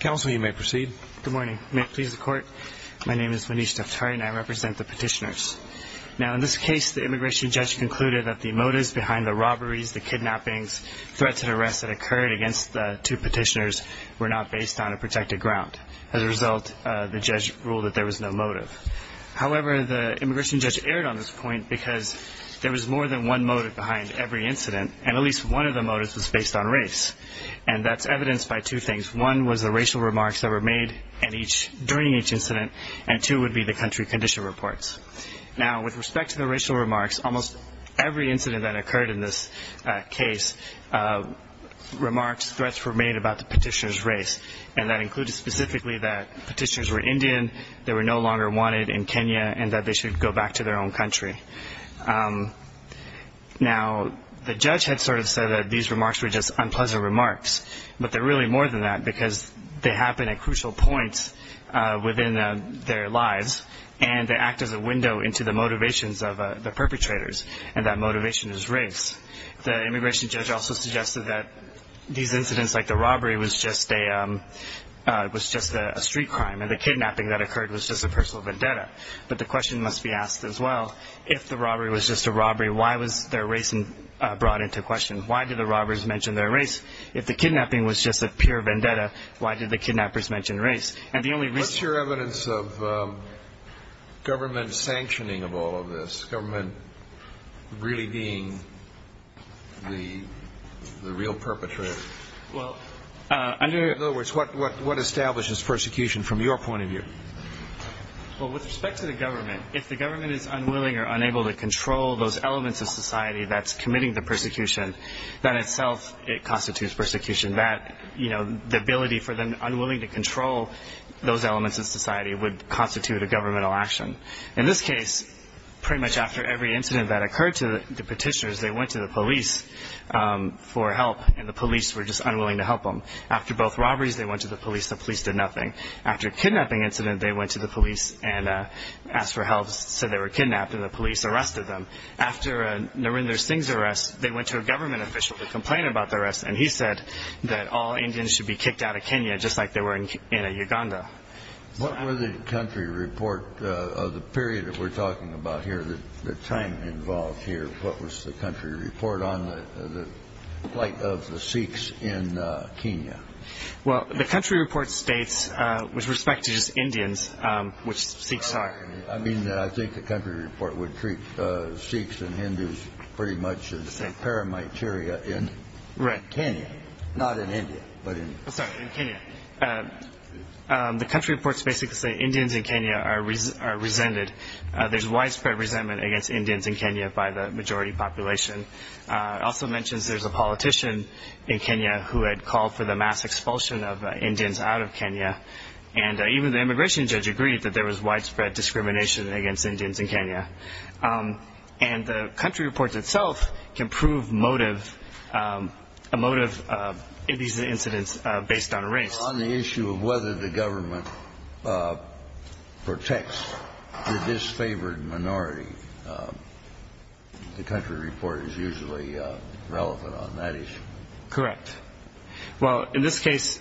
Good morning. May it please the court. My name is Manish Duftari and I represent the petitioners. Now in this case, the immigration judge concluded that the motives behind the robberies, the kidnappings, threats and arrests that occurred against the two petitioners were not based on a protected ground. As a result, the judge ruled that there was no motive. However, the immigration judge erred on this point because there was more than one motive behind every incident, and at least one of the motives was based on race. And that's evidenced by two things. One was the racial remarks that were made during each incident, and two would be the country condition reports. Now with respect to the racial remarks, almost every incident that occurred in this case, remarks, threats were made about the petitioner's race. And that included specifically that petitioners were Indian, they were no back to their own country. Now the judge had sort of said that these remarks were just unpleasant remarks, but they're really more than that because they happen at crucial points within their lives, and they act as a window into the motivations of the perpetrators, and that motivation is race. The immigration judge also suggested that these incidents like the robbery was just a street crime, and the kidnapping that occurred was just a personal vendetta. But the question must be asked as well, if the robbery was just a robbery, why was their race brought into question? Why did the robbers mention their race? If the kidnapping was just a pure vendetta, why did the kidnappers mention race? And the only reason... What's your evidence of government sanctioning of all of this? Government really being the real perpetrator? Well, under... Well, with respect to the government, if the government is unwilling or unable to control those elements of society that's committing the persecution, that itself constitutes persecution. That, you know, the ability for them unwilling to control those elements of society would constitute a governmental action. In this case, pretty much after every incident that occurred to the petitioners, they went to the police for help, and the police were just unwilling to help them. After both robberies, they went to the police, the police did nothing. After a kidnapping incident, they went to the police and asked for help, said they were kidnapped, and the police arrested them. After Narendra Singh's arrest, they went to a government official to complain about the arrest, and he said that all Indians should be kicked out of Kenya, just like they were in Uganda. What was the country report of the period that we're talking about here, the time involved here, what was the country report on the plight of the Sikhs in Kenya? Well, the country report states, with respect to just Indians, which Sikhs are... I mean, I think the country report would treat Sikhs and Hindus pretty much as a paramateria in Kenya, not in India, but in... Sorry, in Kenya. The country reports basically say Indians in Kenya are resented. There's widespread resentment against Indians in Kenya by the majority population. It also mentions there's a politician in Kenya who had called for the mass expulsion of Indians out of Kenya, and even the immigration judge agreed that there was widespread discrimination against Indians in Kenya. And the country report itself can prove motive, a motive of these incidents based on race. On the issue of whether the government protects the disfavored minority, the country report is usually relevant on that issue. Correct. Well, in this case,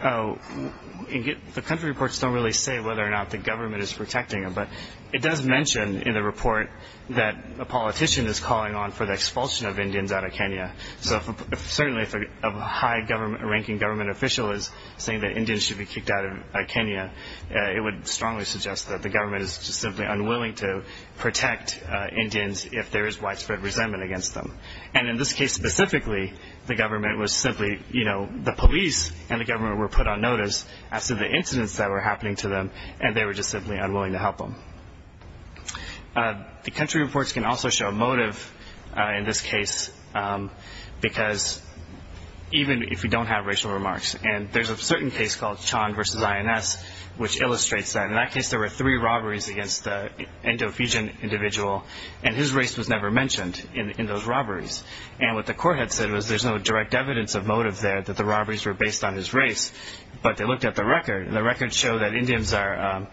the country reports don't really say whether or not the government is protecting them, but it does mention in the report that a politician is calling on for the expulsion of Indians out of Kenya. So certainly if a high-ranking government official is saying that Indians should be kicked out of Kenya, it would strongly suggest that the government is just simply unwilling to protect Indians if there is widespread resentment against them. And in this case specifically, the government was simply, you know, the police and the government were put on notice as to the incidents that were happening to them, and they were just simply unwilling to help them. The country reports can also show motive in this case, because even if you don't have racial remarks, and there's a certain case called Chan versus INS, which illustrates that in that case there were three robberies against the Indo-Fijian individual, and his race was never mentioned in those robberies. And what the court had said was there's no direct evidence of motive there, that the robberies were based on his race, but they looked at the record, and the records show that Indians are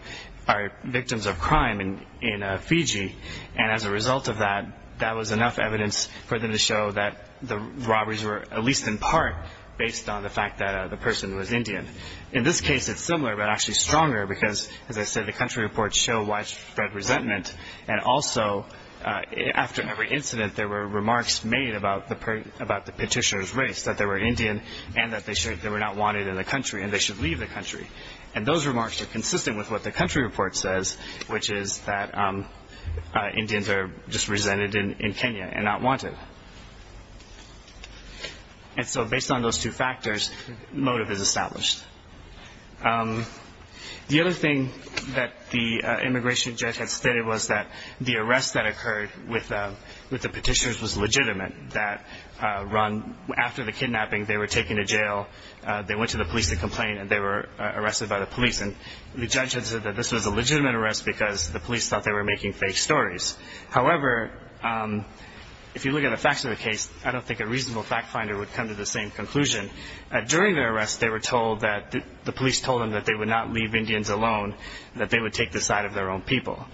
victims of crime in Fiji, and as a result of that, that was enough evidence for them to show that the robberies were at least in part based on the fact that the person was Indian. In this case it's similar, but actually stronger, because as I said, the country reports show widespread resentment, and also after every incident there were remarks made about the petitioner's race, that they were Indian, and that they were not wanted in the country, and they should leave the country. And those remarks are consistent with what the country report says, which is that Indians are just resented in Kenya and not wanted. And so based on those two factors, motive is established. The other thing that the immigration judge had stated was that the arrest that occurred with the petitioners was legitimate, that after the kidnapping they were taken to jail, they went to the police to complain, and they were arrested by the police. And the judge had said that this was a legitimate arrest because the police thought they were making fake stories. However, if you look at the facts of the case, I don't think a reasonable fact finder would come to the same conclusion. During their arrest, they were told that the police told them that they would not leave Indians alone, that they would take the side of their own people.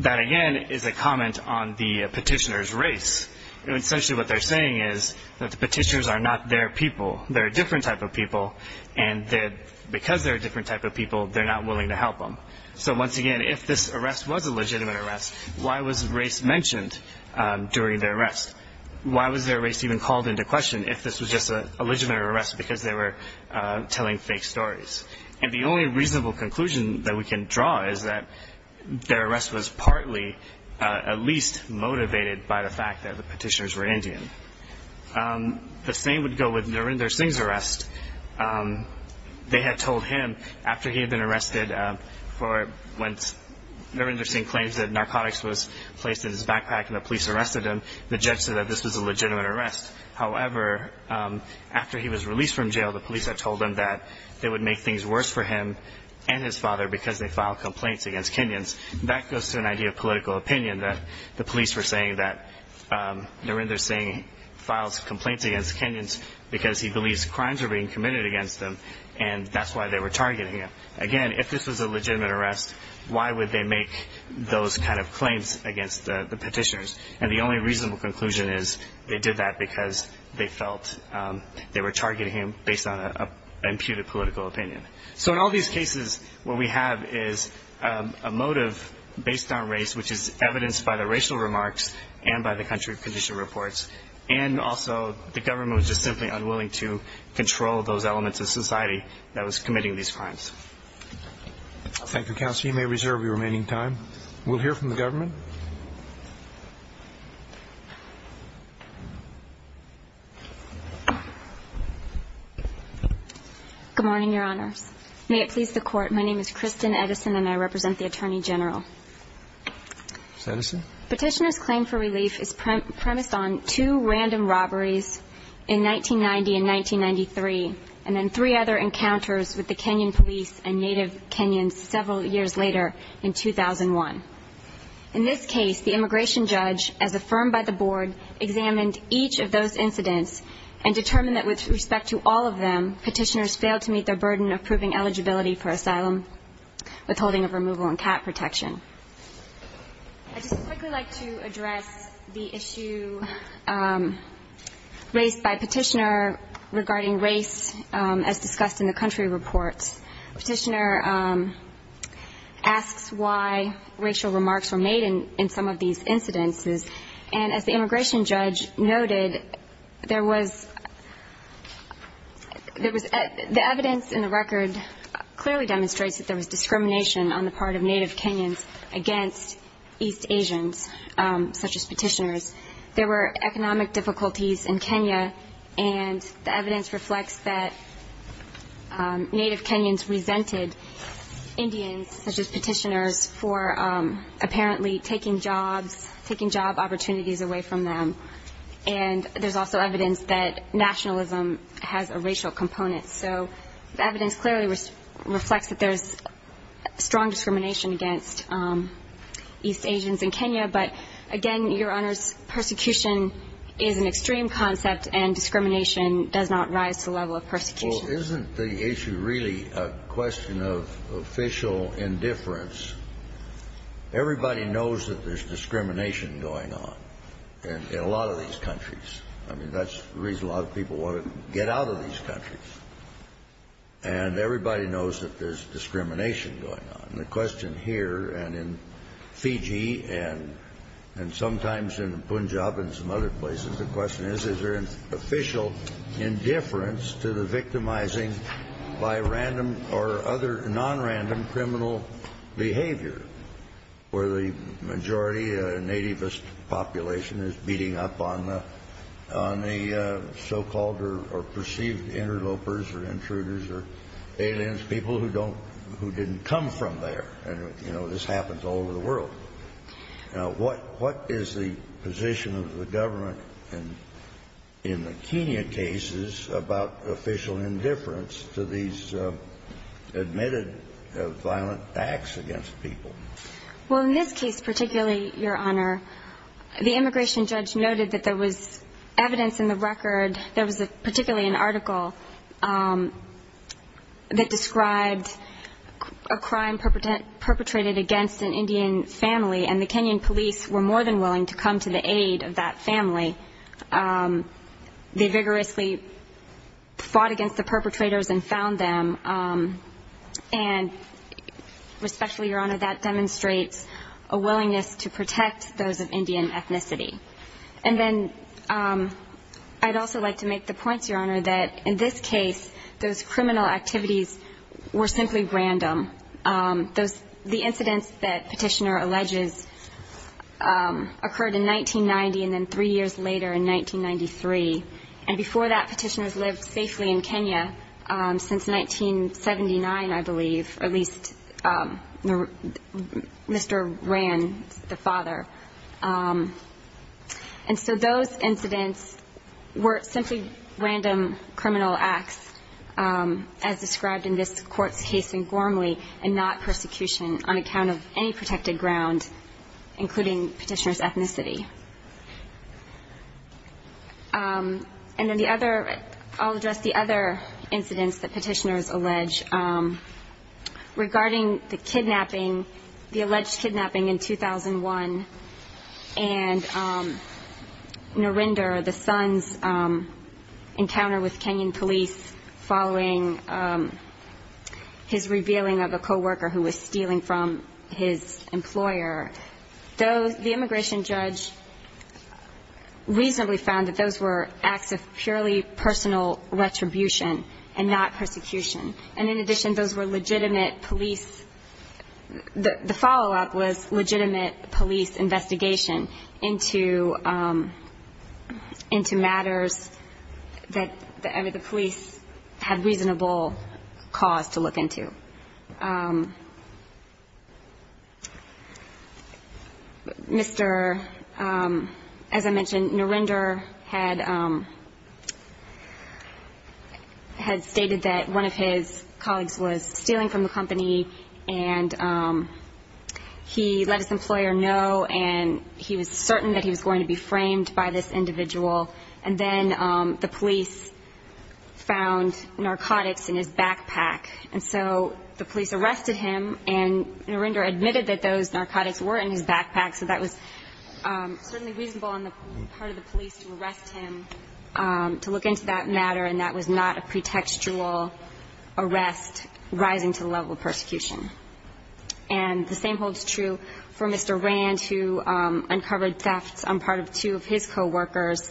That again is a comment on the petitioner's race. Essentially what they're saying is that the petitioners are not their people. They're a different type of people, and because they're a different type of people, they're not willing to help them. So once again, if this arrest was a legitimate arrest, why was race mentioned during their arrest? Why was their race even called into question if this was just a legitimate arrest because they were telling fake stories? And the only reasonable conclusion that we can draw is that their arrest was partly at least motivated by the fact that the petitioners were Indian. The same would go with Narendra Singh's arrest. They had told him after he had been arrested for when Narendra Singh claims that narcotics was placed in his backpack and the police arrested him, the judge said that this was a legitimate arrest. However, after he was released from jail, the police had told him that it would make things worse for him and his father because they filed complaints against Kenyans. That goes to an idea of political opinion that the police were saying that Narendra Singh files complaints against Kenyans because he believes crimes are being committed against them, and that's why they were targeting him. Again, if this was a legitimate arrest, why would they make those kind of claims against the petitioners? And the only reasonable conclusion is they did that because they felt they were targeting him based on an imputed political opinion. So in all these cases, what we have is a motive based on race, which is evidenced by the racial remarks and by the country of condition reports, and also the government was just simply unwilling to control those elements of society that was committing these crimes. Thank you, Counselor. You may reserve your remaining time. We'll hear from the government. Good morning, Your Honors. May it please the Court, my name is Kristen Edison and I represent the Attorney General. Ms. Edison? Petitioner's claim for relief is premised on two random robberies in 1990 in New York in 1993 and then three other encounters with the Kenyan police and native Kenyans several years later in 2001. In this case, the immigration judge, as affirmed by the Board, examined each of those incidents and determined that with respect to all of them, petitioners failed to meet their burden of proving eligibility for asylum withholding of removal and cat protection. I'd just quickly like to address the issue raised by Petitioner regarding race as discussed in the country reports. Petitioner asks why racial remarks were made in some of these incidences, and as the immigration judge noted, there was the evidence in the record clearly demonstrates that there was discrimination on the part of native Kenyans against East Asians, such as petitioners. There were economic difficulties in Kenya, and the evidence reflects that native Kenyans resented Indians, such as petitioners, for apparently taking job opportunities away from them. And there's also evidence that nationalism has a racial component. So the evidence clearly reflects that there's strong discrimination against East Asians in Kenya. But, again, Your Honors, persecution is an extreme concept, and discrimination does not rise to the level of persecution. Well, isn't the issue really a question of official indifference? Everybody knows that there's discrimination going on in a lot of these countries. I mean, that's the reason a lot of people want to get out of these countries. And everybody knows that there's discrimination going on. And the question here and in Fiji and sometimes in Punjab and some other places, the question is, is there an official indifference to the victimizing by random or other nonrandom criminal behavior, where the majority nativist population is beating up on the so-called or perceived interlopers or intruders or aliens, people who don't — who didn't come from there? And, you know, this happens all over the world. What is the position of the government in the Kenya cases about official indifference to these admitted violent acts against people? Well, in this case particularly, Your Honor, the immigration judge noted that there was evidence in the record — there was particularly an article that described a crime perpetrated against an Indian family, and the Kenyan police were more than willing to come to the aid of that family. They vigorously fought against the perpetrators and found them. And especially, Your Honor, that demonstrates a willingness to protect those of Indian ethnicity. And then I'd also like to make the point, Your Honor, that in this case, those criminal activities were simply random. Those — the incidents that Petitioner alleges occurred in 1990 and then three years later in 1993. And before that, Petitioner's lived safely in Kenya since 1979, I believe, or at least Mr. Ran, the father. And so those incidents were simply random criminal acts, as described in this Court's case in Gormley, and not persecution on account of any protected ground, including Petitioner's ethnicity. And then the other — I'll address the other incidents that Petitioner's allege regarding the kidnapping — the alleged kidnapping in 2001 and Narinder, the son's encounter with Kenyan police following his revealing of a coworker who was stealing from his employer. Those — the immigration judge reasonably found that those were acts of purely personal retribution and not persecution. And in addition, those were legitimate police — the follow-up was legitimate police investigation into — into matters that the police had reasonable cause to look into. Mr. — as I mentioned, Narinder had — had stated that one of his colleagues was stealing from the company, and he let his employer know, and he was certain that he was going to be framed by this individual. And then the police found narcotics in his backpack and so the police arrested him, and Narinder admitted that those narcotics were in his backpack, so that was certainly reasonable on the part of the police to arrest him, to look into that matter, and that was not a pretextual arrest rising to the level of persecution. And the same holds true for Mr. Rand, who uncovered thefts on part of two of his coworkers.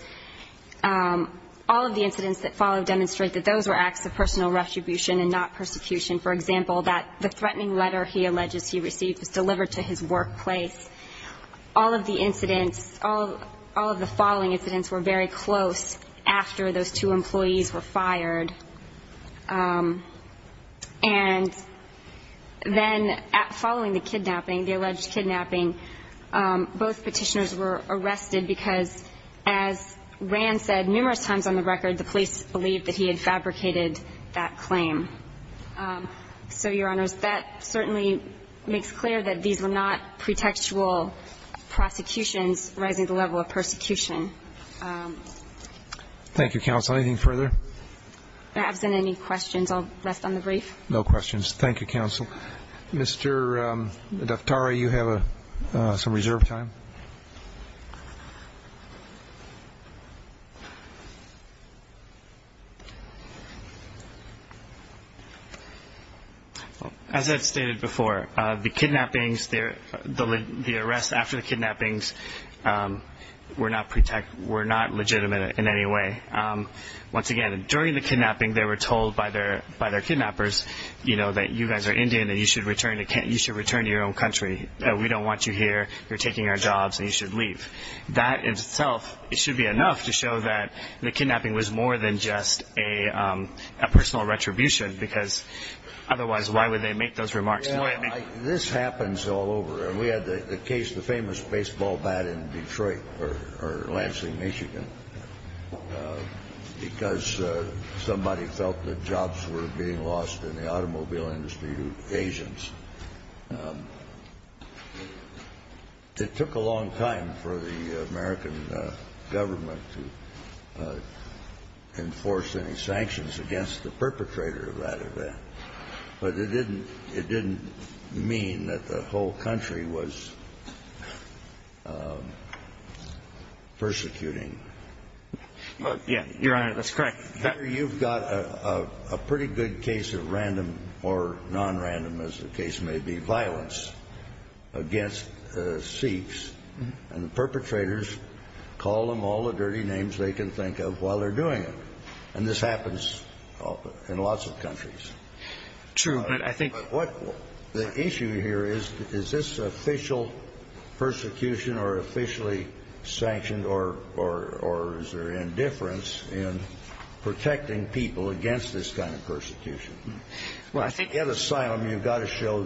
All of the incidents that follow demonstrate that those were acts of personal retribution and not persecution. For example, that the threatening letter he alleges he received was delivered to his workplace. All of the incidents — all of the following incidents were very close after those two employees were fired. And then following the kidnapping, the alleged kidnapping, both petitioners were arrested because, as Rand said numerous times on the record, the police believed that he had fabricated that claim. So, Your Honors, that certainly makes clear that these were not pretextual prosecutions rising to the level of persecution. Thank you, Counsel. Anything further? Absent any questions, I'll rest on the brief. No questions. Thank you, Counsel. Mr. Daftari, you have some reserve time. As I've stated before, the kidnappings — the arrests after the kidnappings were not legitimate in any way. Once again, during the kidnapping, they were told by their kidnappers, you know, that you guys are Indian and you should return to your own country, that we don't want you here, you're taking our jobs, and you should leave. That in itself, it should be enough to show that the kidnapping was more than just a personal retribution, because otherwise why would they make those remarks? This happens all over. We had the case, the famous baseball bat in Detroit, or Lansing, Michigan, because somebody felt that jobs were being lost in the automobile industry and they were being sold to the American government, and they were being sold to the American government to be able to hire new agents. It took a long time for the American government to enforce any sanctions against the perpetrator of that event. But it didn't mean that the whole country was persecuting. Yeah, Your Honor, that's correct. Here you've got a pretty good case of random or non-random, as the case may be, violence against Sikhs, and the perpetrators call them all the dirty names they can think of while they're doing it. And this happens in lots of countries. True, but I think — But what — the issue here is, is this official persecution or officially sanctioned, or is there indifference in protecting people against this kind of persecution? Well, I think — At asylum, you've got to show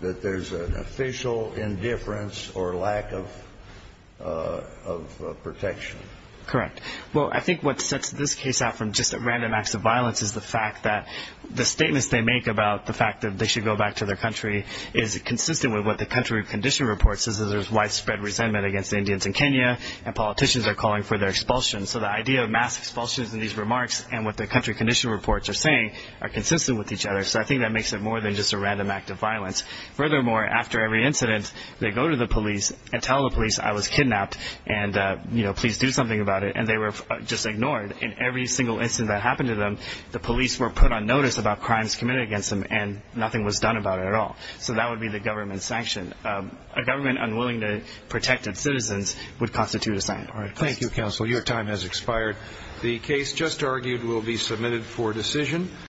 that there's an official indifference or lack of protection. Correct. Well, I think what sets this case out from just a random act of violence is the fact that the statements they make about the fact that they should go back to their country is consistent with what the country of condition reports, is that there's widespread resentment against the Indians in Kenya, and politicians are calling for their expulsion. So the idea of mass expulsions in these remarks and what the country of condition reports are saying are consistent with each other. So I think that makes it more than just a random act of violence. Furthermore, after every incident, they go to the police and tell the police, I was kidnapped, and, you know, please do something about it. And they were just ignored. In every single instance that happened to them, the police were put on notice about crimes committed against them, and nothing was done about it at all. So that would be the government's sanction. A government unwilling to protect its citizens would constitute asylum. Thank you, counsel. Your time has expired. The case just argued will be submitted for decision.